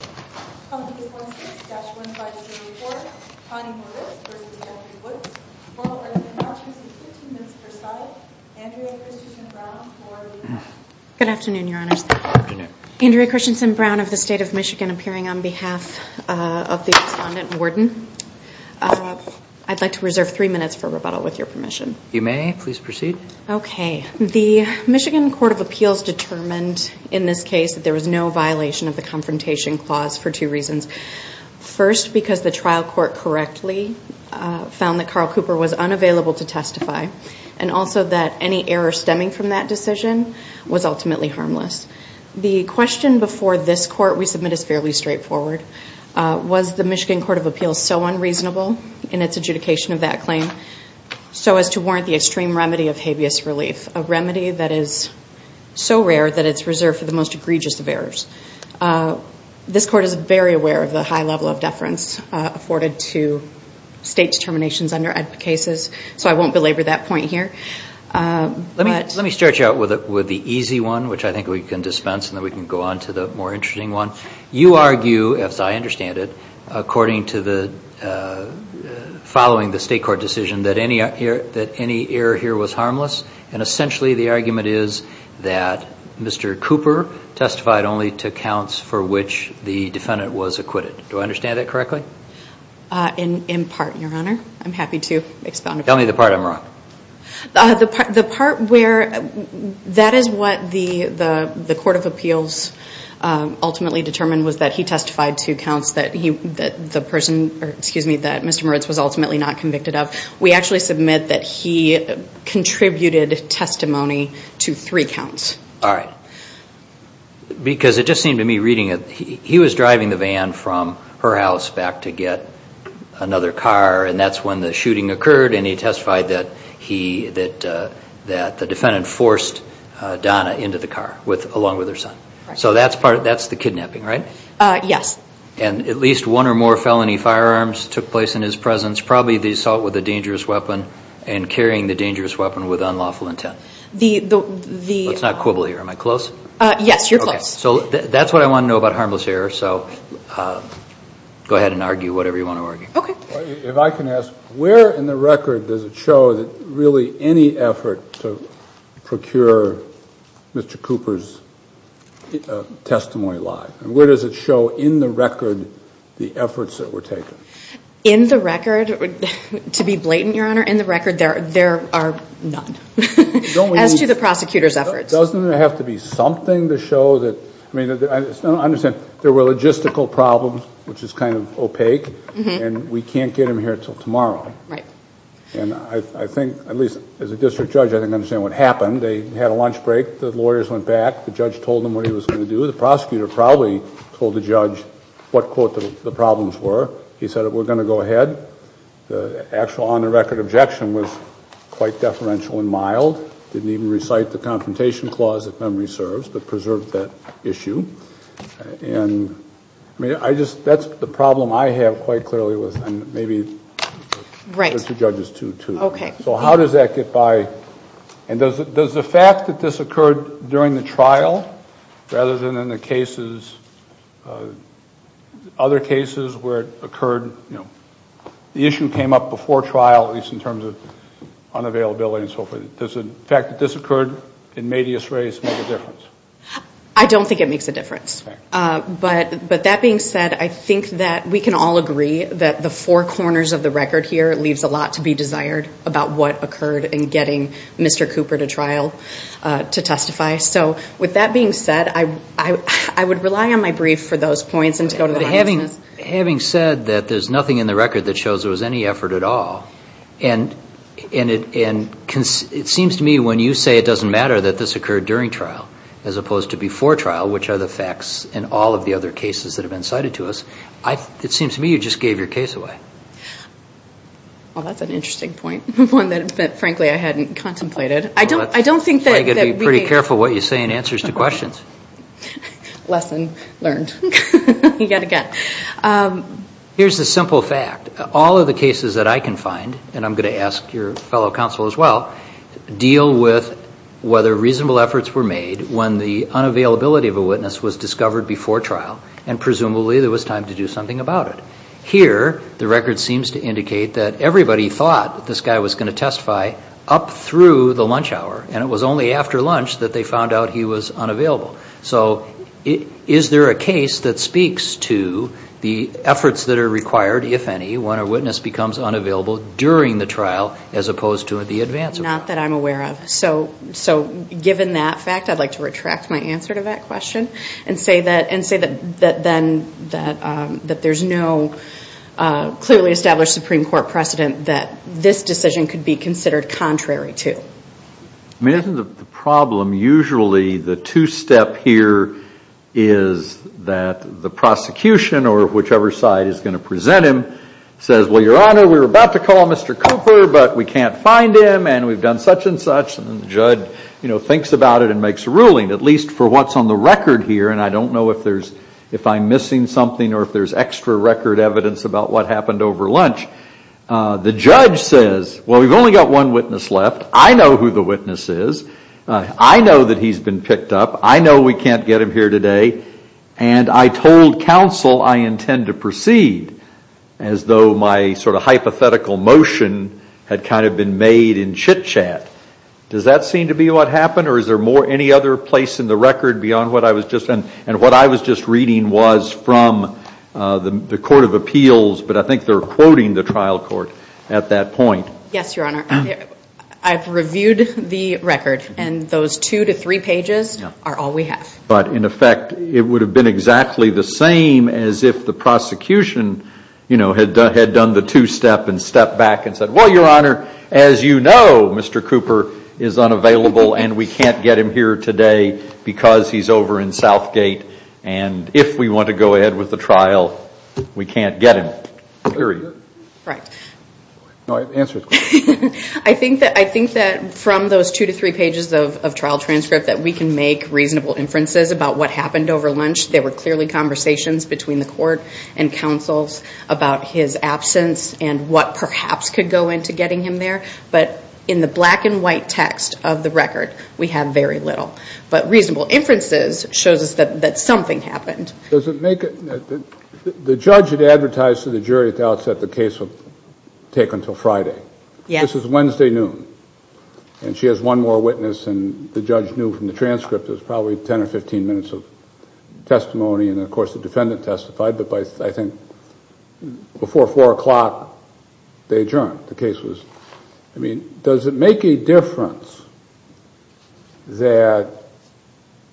Good afternoon, your honors. Andrea Christensen Brown of the state of Michigan appearing on behalf of the respondent warden. I'd like to reserve three minutes for rebuttal with your permission. You may please proceed. Okay, the Michigan Court of Appeals determined in this case that there was no violation of the confrontation clause for two reasons. First, because the trial court correctly found that Carl Cooper was unavailable to testify and also that any error stemming from that decision was ultimately harmless. The question before this court we submit is fairly straightforward. Was the Michigan Court of Appeals so unreasonable in its adjudication of that claim so as to warrant the extreme remedy of habeas relief, a remedy that is so rare that it's reserved for the most egregious of errors? This court is very aware of the high level of deference afforded to state determinations under EDPA cases, so I won't belabor that point here. Let me start you out with the easy one, which I think we can dispense and then we can go on to the more interesting one. You argue, as I understand it, according to the following the state court decision that any error here was harmless and essentially the argument is that Mr. Cooper testified only to counts for which the defendant was acquitted. Do I understand that correctly? In part, your honor. I'm happy to expound upon that. Tell me the part I'm wrong. The part where that is what the court of appeals ultimately determined was that he testified to counts that Mr. Moritz was ultimately not convicted of. We actually submit that he contributed testimony to three counts. All right. Because it just seemed to me reading it, he was driving the van from her house back to get another car and that's when the shooting occurred and he testified that the defendant forced Donna into the car along with her son. So that's the kidnapping, right? Yes. And at least one or more felony firearms took place in his presence, probably the assault with a dangerous weapon and carrying the dangerous weapon with unlawful intent. Let's not quibble here. Am I close? Yes, you're close. So that's what I want to know about harmless error. So go ahead and argue whatever you want to argue. Okay. If I can ask, where in the record does it show that really any effort to procure Mr. Cooper's testimony lie? Where does it show in the record the efforts that were taken? In the record, to be blatant, Your Honor, in the record there are none. As to the prosecutor's efforts. Doesn't it have to be something to show that, I mean, I understand there were logistical problems which is kind of opaque and we can't get him here until tomorrow. Right. And I think, at least as a district judge, I think I understand what happened. They had a lunch break. The lawyers went back. The judge told them what he was going to do. The prosecutor probably told the judge what, quote, the problems were. He said, we're going to go ahead. The actual on-the-record objection was quite deferential and mild. Didn't even recite the confrontation clause, if memory serves, but preserved that issue. And, I mean, I just, that's the problem I have quite clearly with, and maybe the two judges too. Okay. So how does that get by? And does the fact that this occurred during the trial, rather than in the cases, other cases where it occurred, you know, the issue came up before trial, at least in terms of unavailability and so forth. Does the fact that this occurred in Medea's race make a difference? I don't think it makes a difference. Right. But that being said, I think that we can all agree that the four corners of the record here leaves a lot to be desired about what occurred in getting Mr. Cooper to trial to testify. So with that being said, I would rely on my brief for those points and to go to the audience. Having said that, there's nothing in the record that shows there was any effort at all. And it seems to me when you say it doesn't matter that this occurred during trial, as opposed to before trial, which are the facts in all of the other cases that have been cited to us, it seems to me you just gave your case away. Well, that's an interesting point, one that, frankly, I hadn't contemplated. I don't think that we need to. You've got to be pretty careful what you say in answers to questions. Lesson learned. You've got to get. Here's the simple fact. All of the cases that I can find, and I'm going to ask your fellow counsel as well, deal with whether reasonable efforts were made when the unavailability of a witness was discovered before trial and presumably there was time to do something about it. Here, the record seems to indicate that everybody thought this guy was going to testify up through the lunch hour, and it was only after lunch that they found out he was unavailable. So is there a case that speaks to the efforts that are required, if any, when a witness becomes unavailable during the trial as opposed to at the advance? Not that I'm aware of. So given that fact, I'd like to retract my answer to that question and say that then that there's no clearly established Supreme Court precedent that this decision could be considered contrary to. I mean, isn't the problem usually the two-step here is that the prosecution or whichever side is going to present him says, well, Your Honor, we were about to call Mr. Cooper, but we can't find him, and we've done such and such. And the judge, you know, thinks about it and makes a ruling, at least for what's on the record here, and I don't know if I'm missing something or if there's extra record evidence about what happened over lunch. The judge says, well, we've only got one witness left. I know who the witness is. I know that he's been picked up. I know we can't get him here today. And I told counsel I intend to proceed, as though my sort of hypothetical motion had kind of been made in chit-chat. Does that seem to be what happened, or is there any other place in the record beyond what I was just – and what I was just reading was from the Court of Appeals, but I think they're quoting the trial court at that point. Yes, Your Honor. I've reviewed the record, and those two to three pages are all we have. But, in effect, it would have been exactly the same as if the prosecution, you know, had done the two-step and stepped back and said, well, Your Honor, as you know, Mr. Cooper is unavailable, and we can't get him here today because he's over in Southgate, and if we want to go ahead with the trial, we can't get him, period. Right. No, answer the question. I think that from those two to three pages of trial transcript that we can make reasonable inferences about what happened over lunch. There were clearly conversations between the court and counsels about his absence and what perhaps could go into getting him there. But in the black-and-white text of the record, we have very little. But reasonable inferences shows us that something happened. Does it make – the judge had advertised to the jury at the outset the case would take until Friday. Yes. This was Wednesday noon, and she has one more witness, and the judge knew from the transcript it was probably 10 or 15 minutes of testimony, and, of course, the defendant testified, but I think before 4 o'clock they adjourned. The case was – I mean, does it make a difference that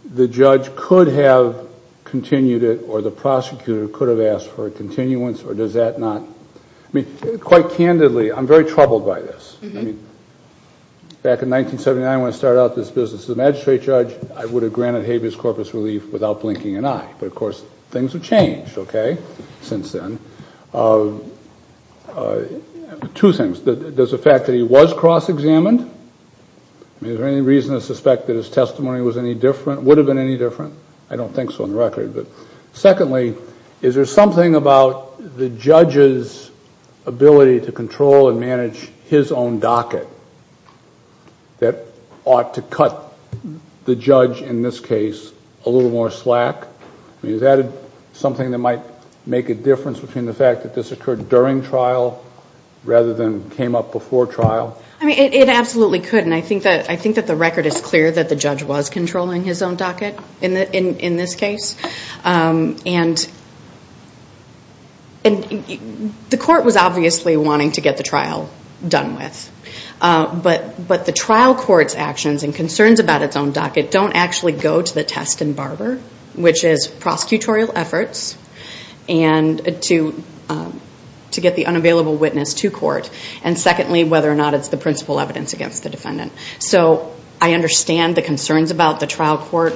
the judge could have continued it or the prosecutor could have asked for a continuance, or does that not – I mean, quite candidly, I'm very troubled by this. I mean, back in 1979 when I started out this business as a magistrate judge, I would have granted habeas corpus relief without blinking an eye. But, of course, things have changed, okay, since then. Two things. There's the fact that he was cross-examined. I mean, is there any reason to suspect that his testimony was any different – would have been any different? I don't think so on the record. Secondly, is there something about the judge's ability to control and manage his own docket that ought to cut the judge in this case a little more slack? I mean, is that something that might make a difference between the fact that this occurred during trial rather than came up before trial? I mean, it absolutely could. And I think that the record is clear that the judge was controlling his own docket in this case. And the court was obviously wanting to get the trial done with. But the trial court's actions and concerns about its own docket don't actually go to the test and barber, which is prosecutorial efforts and to get the unavailable witness to court. And secondly, whether or not it's the principal evidence against the defendant. So I understand the concerns about the trial court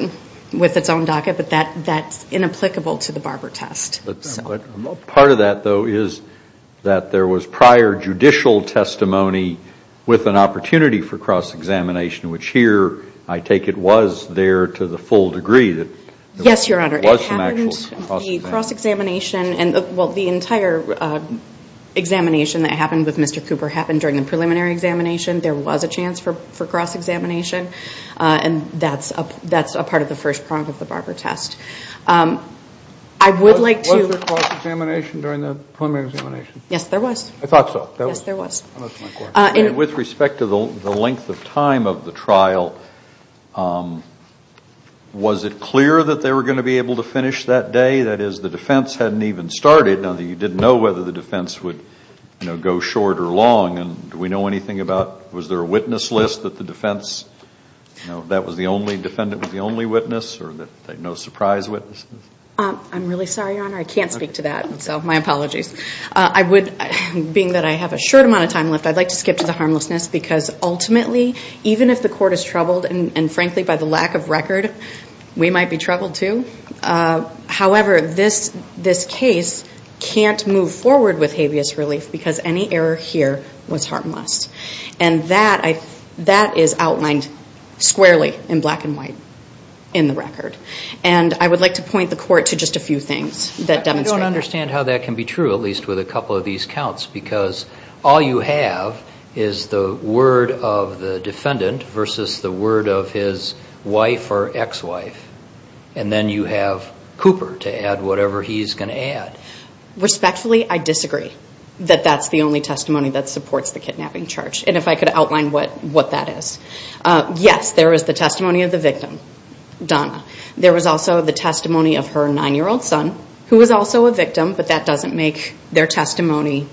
with its own docket, but that's inapplicable to the barber test. Part of that, though, is that there was prior judicial testimony with an opportunity for cross-examination, which here I take it was there to the full degree that there was some actual cross-examination. Yes, Your Honor. Well, the entire examination that happened with Mr. Cooper happened during the preliminary examination. There was a chance for cross-examination. And that's a part of the first prong of the barber test. I would like to- Was there cross-examination during the preliminary examination? Yes, there was. I thought so. Yes, there was. With respect to the length of time of the trial, was it clear that they were going to be able to finish that day? That is, the defense hadn't even started, and you didn't know whether the defense would go short or long. And do we know anything about, was there a witness list that the defense, you know, that the defendant was the only witness or no surprise witnesses? I'm really sorry, Your Honor. I can't speak to that, so my apologies. I would, being that I have a short amount of time left, I'd like to skip to the harmlessness, because ultimately, even if the court is troubled, and frankly, by the lack of record, we might be troubled, too. However, this case can't move forward with habeas relief because any error here was harmless. And that is outlined squarely in black and white in the record. And I would like to point the court to just a few things that demonstrate that. I don't understand how that can be true, at least with a couple of these counts, because all you have is the word of the defendant versus the word of his wife or ex-wife. And then you have Cooper to add whatever he's going to add. Respectfully, I disagree that that's the only testimony that supports the kidnapping charge. And if I could outline what that is. Yes, there is the testimony of the victim, Donna. There was also the testimony of her 9-year-old son, who was also a victim, but that doesn't make their testimony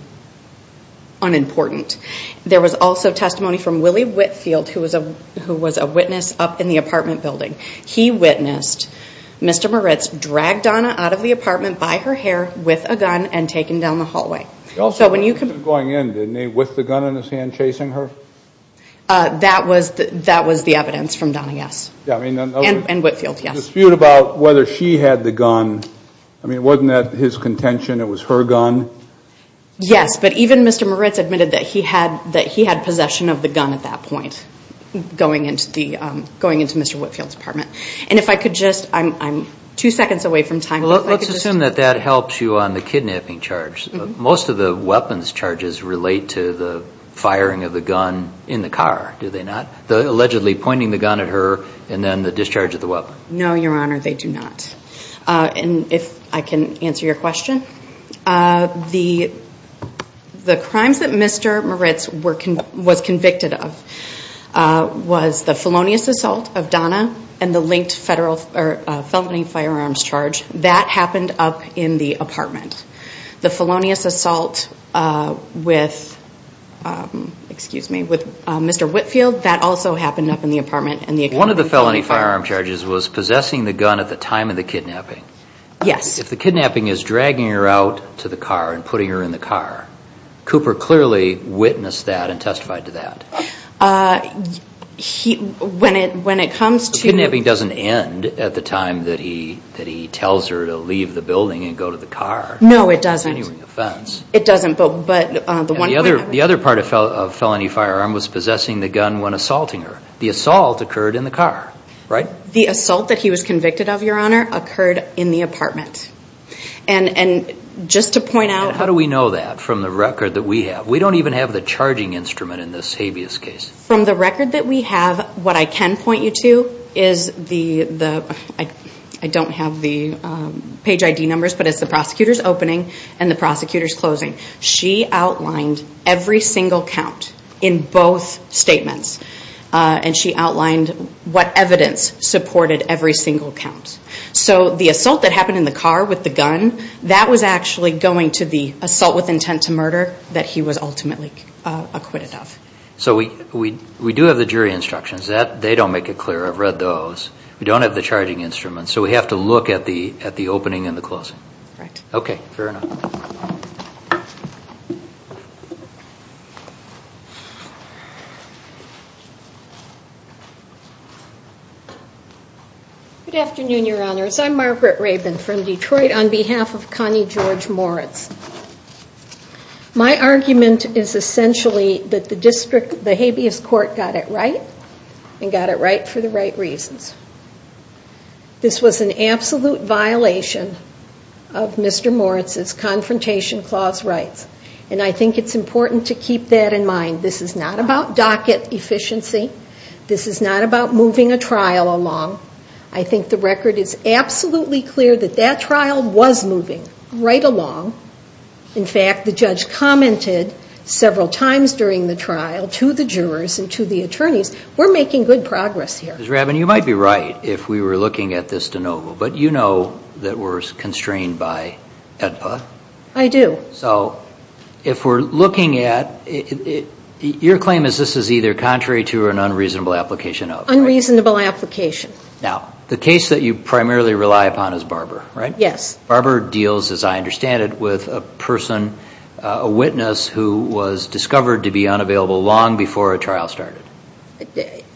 unimportant. There was also testimony from Willie Whitfield, who was a witness up in the apartment building. He witnessed Mr. Moritz drag Donna out of the apartment by her hair with a gun and taken down the hallway. He also had a gun going in, didn't he, with the gun in his hand chasing her? That was the evidence from Donna, yes. And Whitfield, yes. The dispute about whether she had the gun, I mean, wasn't that his contention, it was her gun? Yes, but even Mr. Moritz admitted that he had possession of the gun at that point, going into Mr. Whitfield's apartment. And if I could just, I'm two seconds away from time. Let's assume that that helped you on the kidnapping charge. Most of the weapons charges relate to the firing of the gun in the car, do they not? Allegedly pointing the gun at her and then the discharge of the weapon. No, Your Honor, they do not. And if I can answer your question. The crimes that Mr. Moritz was convicted of was the felonious assault of Donna and the linked felony firearms charge. That happened up in the apartment. The felonious assault with Mr. Whitfield, that also happened up in the apartment. One of the felony firearm charges was possessing the gun at the time of the kidnapping. Yes. If the kidnapping is dragging her out to the car and putting her in the car, Cooper clearly witnessed that and testified to that. When it comes to... Kidnapping doesn't end at the time that he tells her to leave the building and go to the car. No, it doesn't. It doesn't, but... The other part of felony firearm was possessing the gun when assaulting her. The assault occurred in the car, right? The assault that he was convicted of, Your Honor, occurred in the apartment. And just to point out... How do we know that from the record that we have? We don't even have the charging instrument in this habeas case. From the record that we have, what I can point you to is the... I don't have the page ID numbers, but it's the prosecutor's opening and the prosecutor's closing. She outlined every single count in both statements. And she outlined what evidence supported every single count. So the assault that happened in the car with the gun, that was actually going to the assault with intent to murder that he was ultimately acquitted of. So we do have the jury instructions. They don't make it clear. I've read those. We don't have the charging instrument, so we have to look at the opening and the closing. Correct. Okay, fair enough. Good afternoon, Your Honors. I'm Margaret Rabin from Detroit on behalf of Connie George Moritz. My argument is essentially that the district, the habeas court got it right and got it right for the right reasons. This was an absolute violation of Mr. Moritz's Confrontation Clause rights. And I think it's important to keep that in mind. This is not about docket efficiency. This is not about moving a trial along. I think the record is absolutely clear that that trial was moving right along. In fact, the judge commented several times during the trial to the jurors and to the attorneys, we're making good progress here. Ms. Rabin, you might be right if we were looking at this de novo, but you know that we're constrained by AEDPA. I do. So if we're looking at it, your claim is this is either contrary to or an unreasonable application of. Unreasonable application. Now, the case that you primarily rely upon is Barber, right? Yes. Barber deals, as I understand it, with a person, a witness, who was discovered to be unavailable long before a trial started.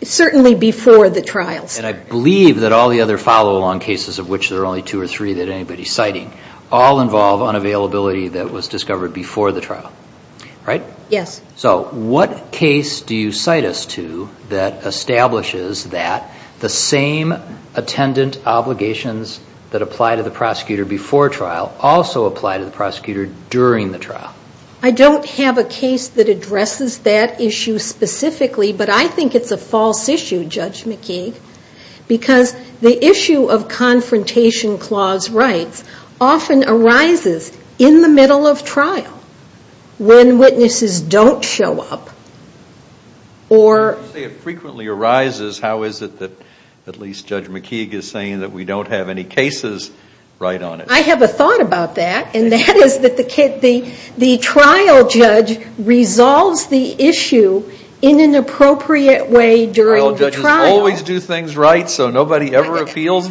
Certainly before the trial started. And I believe that all the other follow-along cases, of which there are only two or three that anybody's citing, all involve unavailability that was discovered before the trial, right? Yes. So what case do you cite us to that establishes that the same attendant obligations that apply to the prosecutor before trial also apply to the prosecutor during the trial? I don't have a case that addresses that issue specifically, but I think it's a false issue, Judge McKee, because the issue of confrontation clause rights often arises in the middle of trial when witnesses don't show up or... You say it frequently arises. How is it that at least Judge McKee is saying that we don't have any cases right on it? I have a thought about that, and that is that the trial judge resolves the issue in an appropriate way during the trial. Does the trial judge always do things right so nobody ever appeals?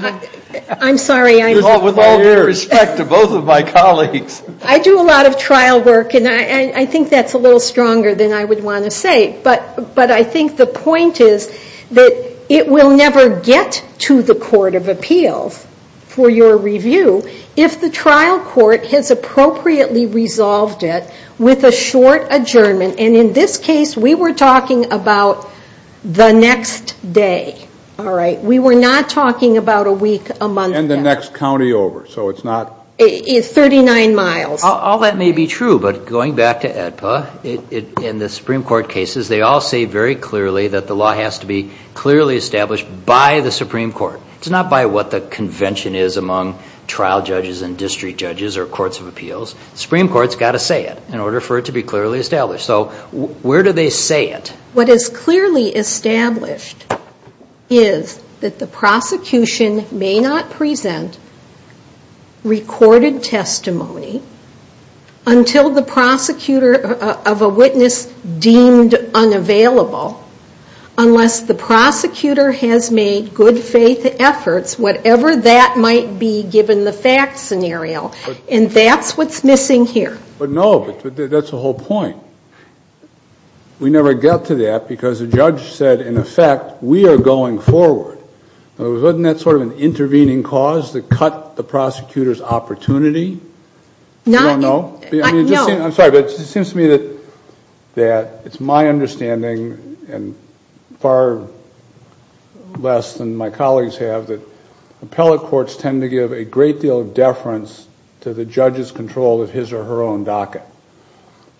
I'm sorry. With all due respect to both of my colleagues. I do a lot of trial work, and I think that's a little stronger than I would want to say, but I think the point is that it will never get to the Court of Appeals for your review if the trial court has appropriately resolved it with a short adjournment. In this case, we were talking about the next day. We were not talking about a week, a month. And the next county over, so it's not... It's 39 miles. All that may be true, but going back to AEDPA, in the Supreme Court cases, they all say very clearly that the law has to be clearly established by the Supreme Court. It's not by what the convention is among trial judges and district judges or courts of appeals. The Supreme Court's got to say it in order for it to be clearly established. So where do they say it? What is clearly established is that the prosecution may not present recorded testimony until the prosecutor of a witness deemed unavailable, unless the prosecutor has made good faith efforts, whatever that might be given the fact scenario. And that's what's missing here. But no, that's the whole point. We never get to that because the judge said, in effect, we are going forward. Isn't that sort of an intervening cause to cut the prosecutor's opportunity? You don't know? I'm sorry, but it seems to me that it's my understanding, and far less than my colleagues have, that appellate courts tend to give a great deal of deference to the judge's control of his or her own docket.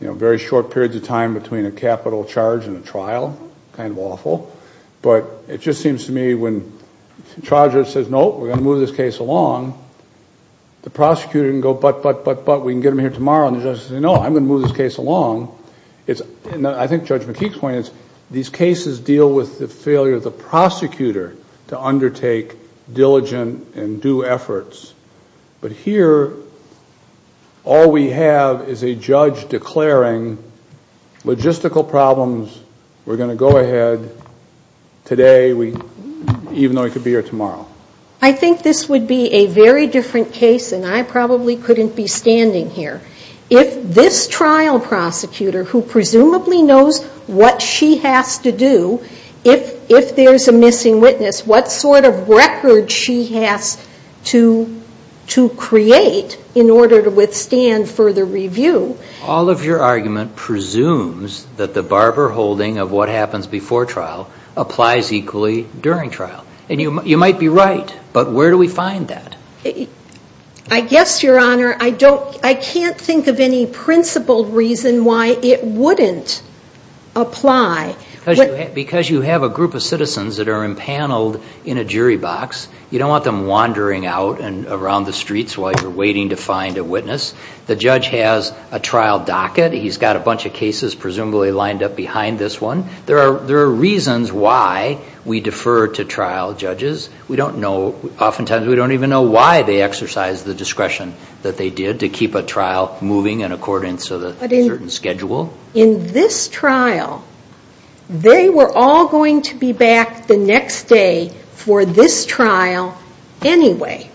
You know, very short periods of time between a capital charge and a trial, kind of awful. But it just seems to me when the charge says, no, we're going to move this case along, the prosecutor can go, but, but, but, but, we can get them here tomorrow. And the judge says, no, I'm going to move this case along. And I think Judge McKeek's point is these cases deal with the failure of the prosecutor to undertake diligent and due efforts. But here, all we have is a judge declaring logistical problems, we're going to go ahead today, even though he could be here tomorrow. I think this would be a very different case, and I probably couldn't be standing here. If this trial prosecutor, who presumably knows what she has to do, if there's a missing witness, what sort of record she has to create in order to withstand further review. All of your argument presumes that the barber holding of what happens before trial applies equally during trial. And you might be right, but where do we find that? I guess, Your Honor, I can't think of any principled reason why it wouldn't apply. Because you have a group of citizens that are impaneled in a jury box. You don't want them wandering out and around the streets while you're waiting to find a witness. The judge has a trial docket, he's got a bunch of cases presumably lined up behind this one. There are reasons why we defer to trial judges. We don't know, oftentimes we don't even know why they exercised the discretion that they did to keep a trial moving in accordance with a certain schedule. In this trial, they were all going to be back the next day for this trial anyway.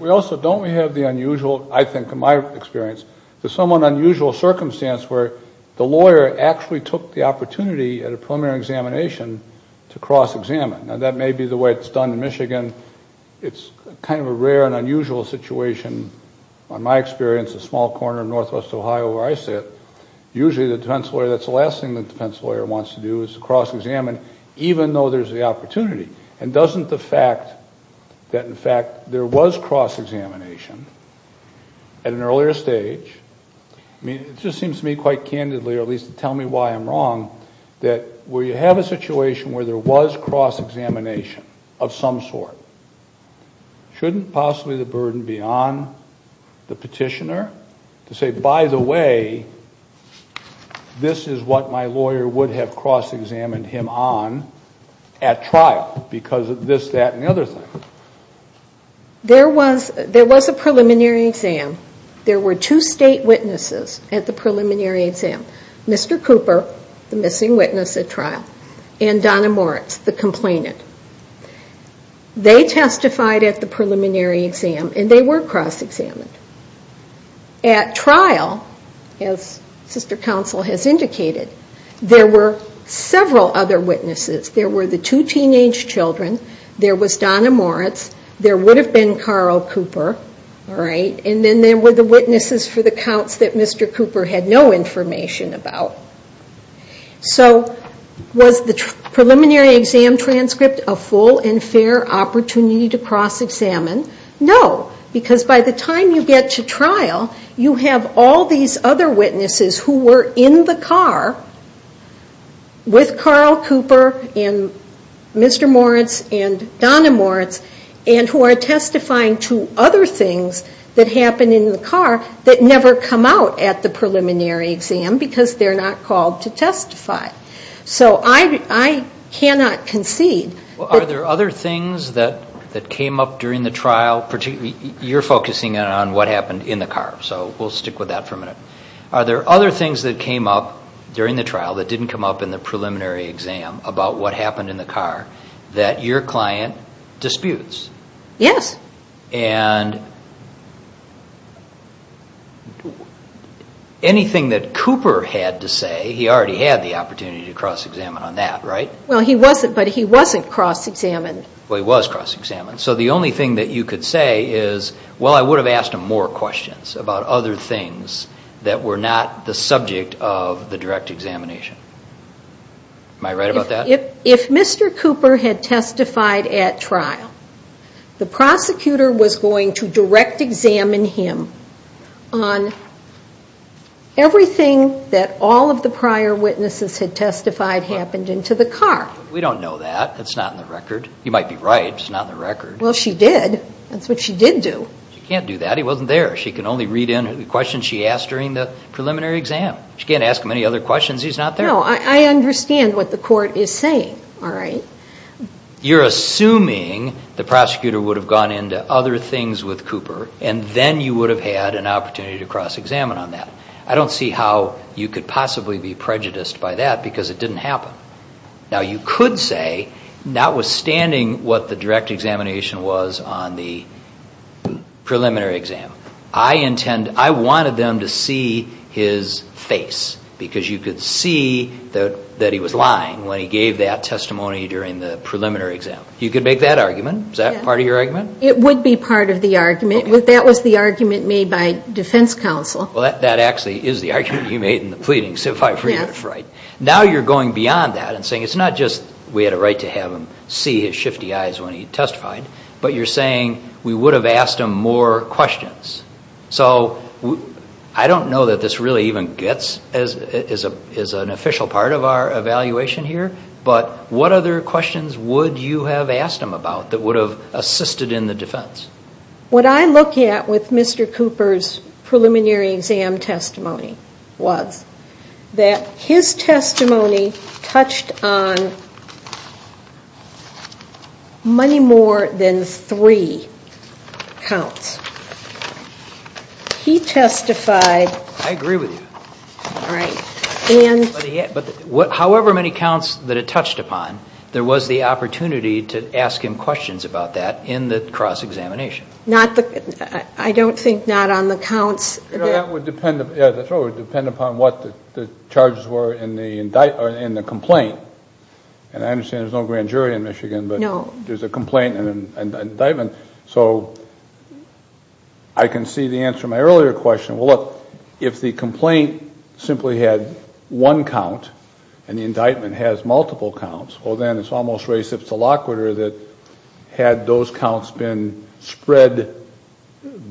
We also don't have the unusual, I think in my experience, the somewhat unusual circumstance where the lawyer actually took the opportunity at a preliminary examination to cross-examine. Now that may be the way it's done in Michigan. It's kind of a rare and unusual situation, in my experience, a small corner of northwest Ohio where I sit. Usually the defense lawyer, that's the last thing the defense lawyer wants to do is cross-examine, even though there's the opportunity. And doesn't the fact that, in fact, there was cross-examination at an earlier stage, I mean, it just seems to me quite candidly, or at least tell me why I'm wrong, that where you have a situation where there was cross-examination of some sort, shouldn't possibly the burden be on the petitioner to say, by the way, this is what my lawyer would have cross-examined him on at trial, because of this, that, and the other thing? There was a preliminary exam. There were two state witnesses at the preliminary exam, Mr. Cooper, the missing witness at trial, and Donna Moritz, the complainant. They testified at the preliminary exam, and they were cross-examined. At trial, as sister counsel has indicated, there were several other witnesses. There were the two teenage children, there was Donna Moritz, there would have been Carl Cooper, and then there were the witnesses for the counts that Mr. Cooper had no information about. So was the preliminary exam transcript a full and fair opportunity to cross-examine? No, because by the time you get to trial, you have all these other witnesses who were in the car with Carl Cooper, and Mr. Moritz, and Donna Moritz, and who are testifying to other things that happen in the car that never come out at the preliminary exam, because they're not called to testify. So I cannot concede. Are there other things that came up during the trial? You're focusing on what happened in the car, so we'll stick with that for a minute. Are there other things that came up during the trial that didn't come up in the preliminary exam about what happened in the car that your client disputes? Anything that Cooper had to say, he already had the opportunity to cross-examine on that, right? Well, he wasn't, but he wasn't cross-examined. Well, he was cross-examined, so the only thing that you could say is, well, I would have asked him more questions about other things that were not the subject of the direct examination. Am I right about that? If Mr. Cooper had testified at trial, the prosecutor was going to direct examine him on everything that all of the prior witnesses had testified happened into the car. We don't know that. It's not in the record. You might be right. It's not in the record. Well, she did. That's what she did do. She can't do that. He wasn't there. She can only read in the questions she asked during the preliminary exam. She can't ask him any other questions. He's not there. You're assuming the prosecutor would have gone into other things with Cooper, and then you would have had an opportunity to cross-examine on that. I don't see how you could possibly be prejudiced by that, because it didn't happen. Now, you could say, notwithstanding what the direct examination was on the preliminary exam, I wanted them to see his face, because you could see that he was lying when he gave that testimony during the preliminary exam. You could make that argument. Is that part of your argument? It would be part of the argument. That was the argument made by defense counsel. Well, that actually is the argument he made in the pleadings, if I remember right. Now you're going beyond that and saying it's not just we had a right to have him see his shifty eyes when he testified, but you're saying we would have asked him more questions. I don't know that this really even gets as an official part of our evaluation here, but what other questions would you have asked him about that would have assisted in the defense? What I look at with Mr. Cooper's preliminary exam testimony was that his testimony touched on many more than three counts. He testified. However many counts that it touched upon, there was the opportunity to ask him questions about that in the cross-examination. I don't think not on the counts. That would depend upon what the charges were in the complaint. And I understand there's no grand jury in Michigan, but there's a complaint and an indictment. So I can see the answer to my earlier question. Well, look, if the complaint simply had one count and the indictment has multiple counts, well, then it's almost reciprocal that had those counts been spread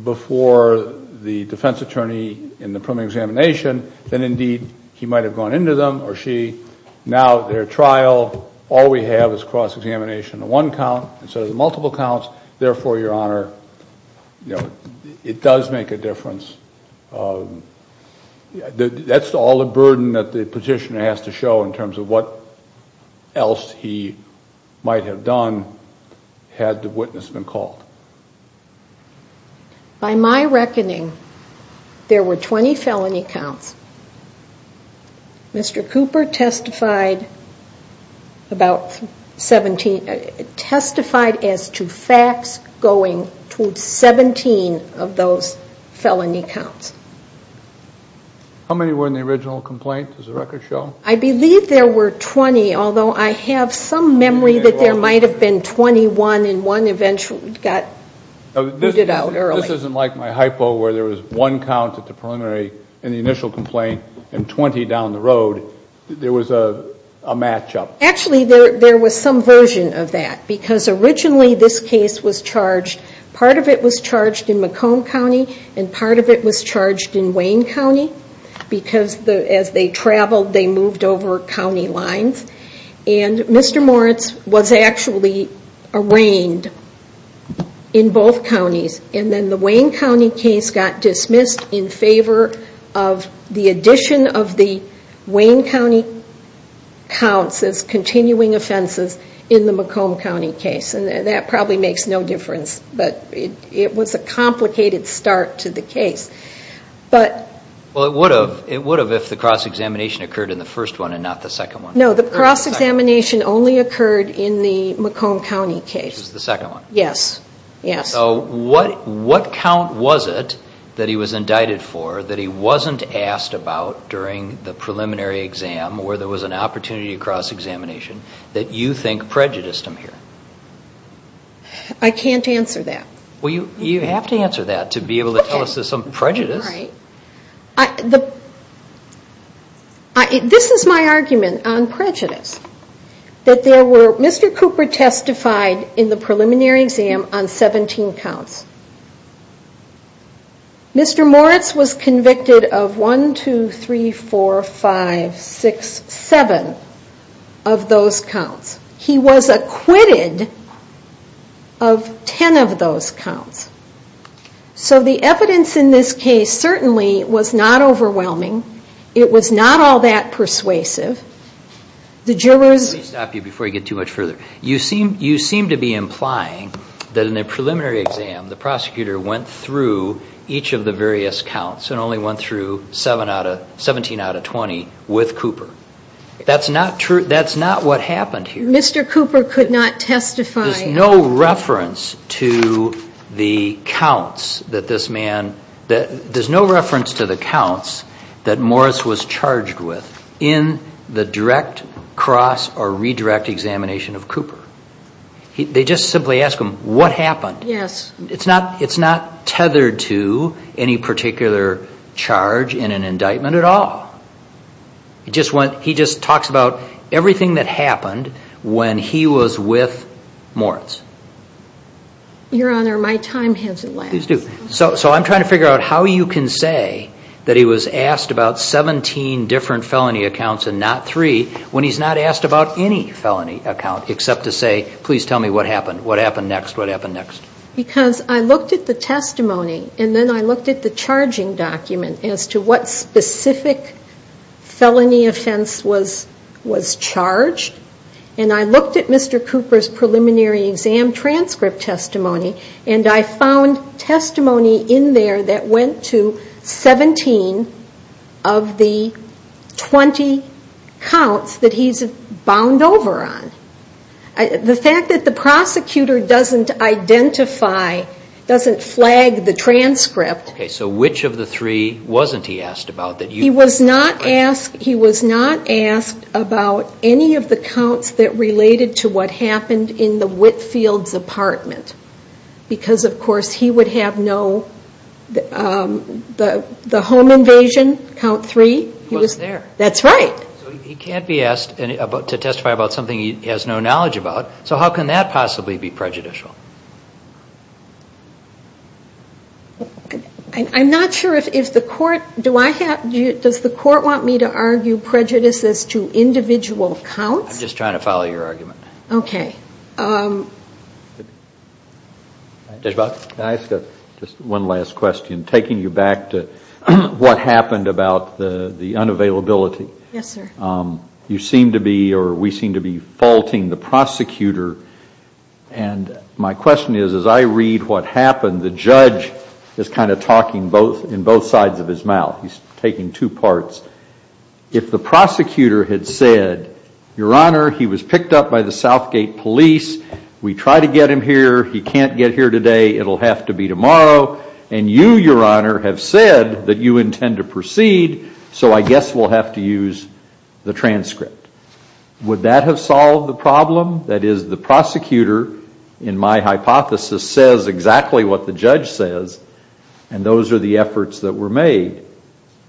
before the defense counsel and the defense attorney in the preliminary examination, then indeed he might have gone into them or she. Now, their trial, all we have is cross-examination on one count instead of the multiple counts. Therefore, Your Honor, it does make a difference. That's all the burden that the petitioner has to show in terms of what else he might have done had the witness been called. By my reckoning, there were 20 felony counts. Mr. Cooper testified as to facts going to 17 of those felony counts. How many were in the original complaint? Does the record show? I believe there were 20, although I have some memory that there might have been 21 and one eventually got booted out early. This isn't like my hypo where there was one count at the preliminary in the initial complaint and 20 down the road. There was a matchup. Actually, there was some version of that because originally this case was charged, part of it was charged in Macomb County and part of it was charged in Wayne County because as they traveled, they moved over county lines. And Mr. Moritz was actually arraigned in both counties. And then the Wayne County case got dismissed in favor of the addition of the Wayne County counts as continuing offenses in the Macomb County case. And that probably makes no difference, but it was a complicated start to the case. It would have if the cross-examination occurred in the first one and not the second one. No, the cross-examination only occurred in the Macomb County case. What count was it that he was indicted for that he wasn't asked about during the preliminary exam where there was an opportunity to cross-examination that you think prejudiced him here? I can't answer that. This is my argument on prejudice. Mr. Cooper testified in the preliminary exam on 17 counts. Mr. Moritz was convicted of 1, 2, 3, 4, 5, 6, 7 of those counts. He was acquitted of 10 of those counts. So the evidence in this case certainly was not overwhelming. It was not all that persuasive. Let me stop you before you get too much further. You seem to be implying that in the preliminary exam, the prosecutor went through each of the various counts and only went through 17 out of 20 with Cooper. That's not what happened here. Mr. Cooper could not testify. There's no reference to the counts that Moritz was charged with in the direct, cross, or redirect examination of Cooper. They just simply ask him what happened. It's not tethered to any particular charge in an indictment at all. He just talks about everything that happened when he was with Moritz. Your Honor, my time has elapsed. So I'm trying to figure out how you can say that he was asked about 17 different felony accounts and not 3 when he's not asked about any felony account, except to say, please tell me what happened, what happened next, what happened next. Because I looked at the testimony, and then I looked at the charging document as to what specific charges he was charged with. Felony offense was charged. And I looked at Mr. Cooper's preliminary exam transcript testimony, and I found testimony in there that went to 17 of the 20 counts that he's bound over on. The fact that the prosecutor doesn't identify, doesn't flag the transcript... He was not asked about any of the counts that related to what happened in the Whitfield's apartment. Because, of course, he would have no... The home invasion, count 3. He wasn't there. That's right. So he can't be asked to testify about something he has no knowledge about. So how can that possibly be prejudicial? I'm not sure if the court... Does the court want me to argue prejudices to individual counts? I'm just trying to follow your argument. Okay. Judge Bott, can I ask just one last question, taking you back to what happened about the unavailability? Yes, sir. You seem to be, or we seem to be, faulting the prosecutor. And my question is, as I read what happened, the judge is kind of talking in both sides of his mouth. He's taking two parts. If the prosecutor had said, Your Honor, he was picked up by the Southgate police. We tried to get him here. He can't get here today. It'll have to be tomorrow. And you, Your Honor, have said that you intend to proceed. So I guess we'll have to use the transcript. Would that have solved the problem? That is, the prosecutor, in my hypothesis, says exactly what the judge says, and those are the efforts that were made.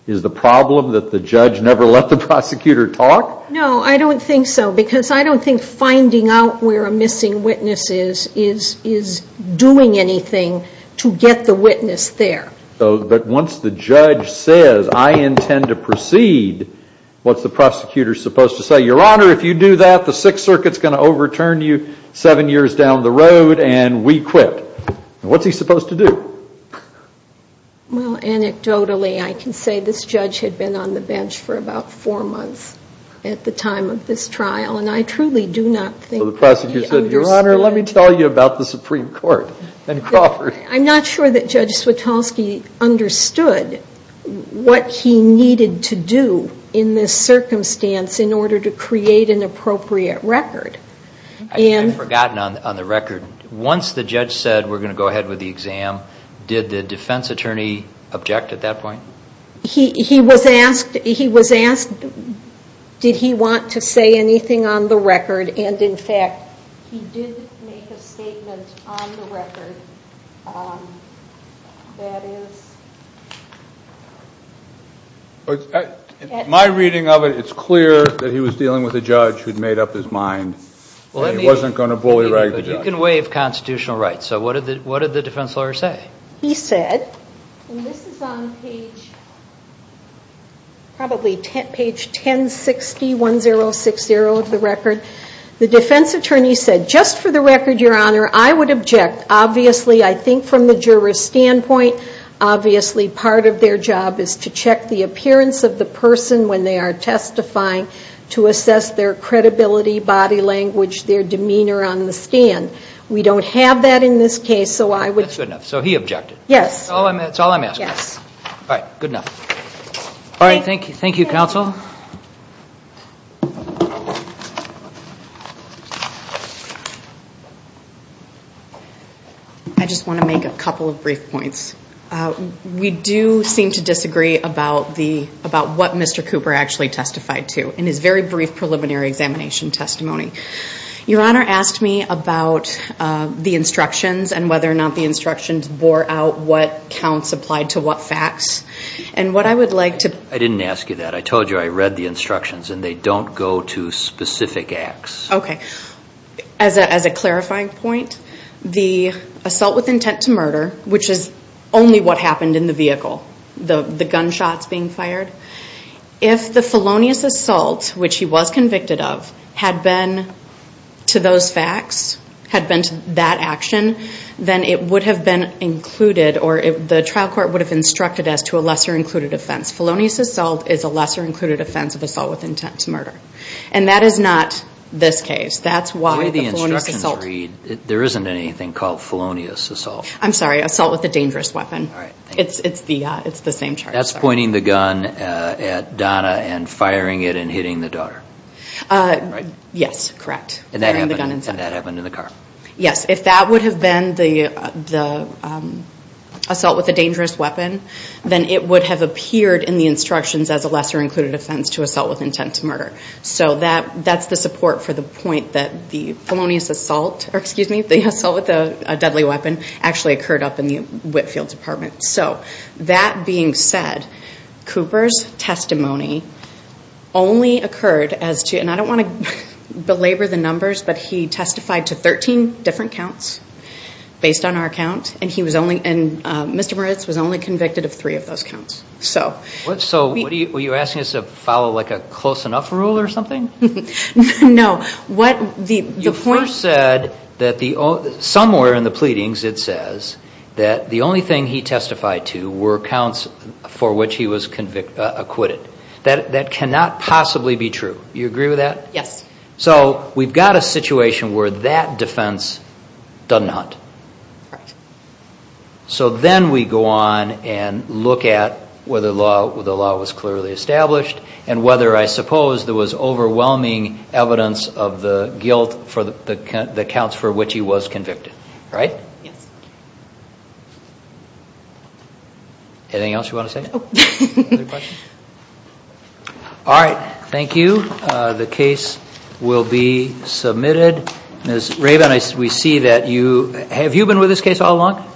Is the problem that the judge never let the prosecutor talk? No, I don't think so, because I don't think finding out where a missing witness is is doing anything to get the witness there. But once the judge says, I intend to proceed, what's the prosecutor supposed to say? Your Honor, if you do that, the Sixth Circuit's going to overturn you seven years down the road, and we quit. What's he supposed to do? Well, anecdotally, I can say this judge had been on the bench for about four months at the time of this trial, and I truly do not think that he understood. Your Honor, let me tell you about the Supreme Court and Crawford. I'm not sure that Judge Switalski understood what he needed to do in this circumstance in order to create an appropriate record. I've forgotten on the record, once the judge said, we're going to go ahead with the exam, did the defense attorney object at that point? He was asked, did he want to say anything on the record, and in fact, he did make a statement on the record that is... In my reading of it, it's clear that he was dealing with a judge who'd made up his mind and he wasn't going to bully-rag the judge. You can waive constitutional rights, so what did the defense lawyer say? He said, and this is on page, probably page 1060, 1060 of the record, the defense attorney said, just for the record, Your Honor, I would object. Obviously, I think from the juror's standpoint, obviously part of their job is to check the appearance of the person when they are testifying to assess their credibility, body language, their demeanor on the stand. We don't have that in this case, so I would... That's good enough, so he objected. I just want to make a couple of brief points. We do seem to disagree about what Mr. Cooper actually testified to in his very brief preliminary examination testimony. Your Honor asked me about the instructions and whether or not the instructions bore out what counts applied to what facts, and what I would like to... I didn't ask you that. I told you I read the instructions and they don't go to specific acts. As a clarifying point, the assault with intent to murder, which is only what happened in the vehicle, the gunshots being fired, if the felonious assault, which he was convicted of, had been to those facts, had been to that action, then it would have been included, or the trial court would have instructed us to a lesser included offense. Felonious assault is a lesser included offense of assault with intent to murder. And that is not this case. Through the instructions read, there isn't anything called felonious assault. I'm sorry, assault with a dangerous weapon. It's the same charge. That's pointing the gun at Donna and firing it and hitting the daughter. Yes, correct. If that would have been the assault with a dangerous weapon, then it would have appeared in the instructions as a lesser included offense to assault with intent to murder. So that's the support for the point that the felonious assault, or excuse me, the assault with a deadly weapon actually occurred up in the Whitfield Department. So that being said, Cooper's testimony only occurred as to, and I don't want to belabor the numbers, but he testified to 13 different counts based on our count. And Mr. Moritz was only convicted of three of those counts. Were you asking us to follow a close enough rule or something? No. Somewhere in the pleadings it says that the only thing he testified to were counts for which he was acquitted. That cannot possibly be true. Do you agree with that? Yes. So we've got a situation where that defense does not. So then we go on and look at whether the law was clearly established and whether I suppose there was overwhelming evidence of the guilt for the counts for which he was convicted. Right? Anything else you want to say? All right. Thank you. The case will be submitted. Ms. Rabin, we see that you, have you been with this case all along?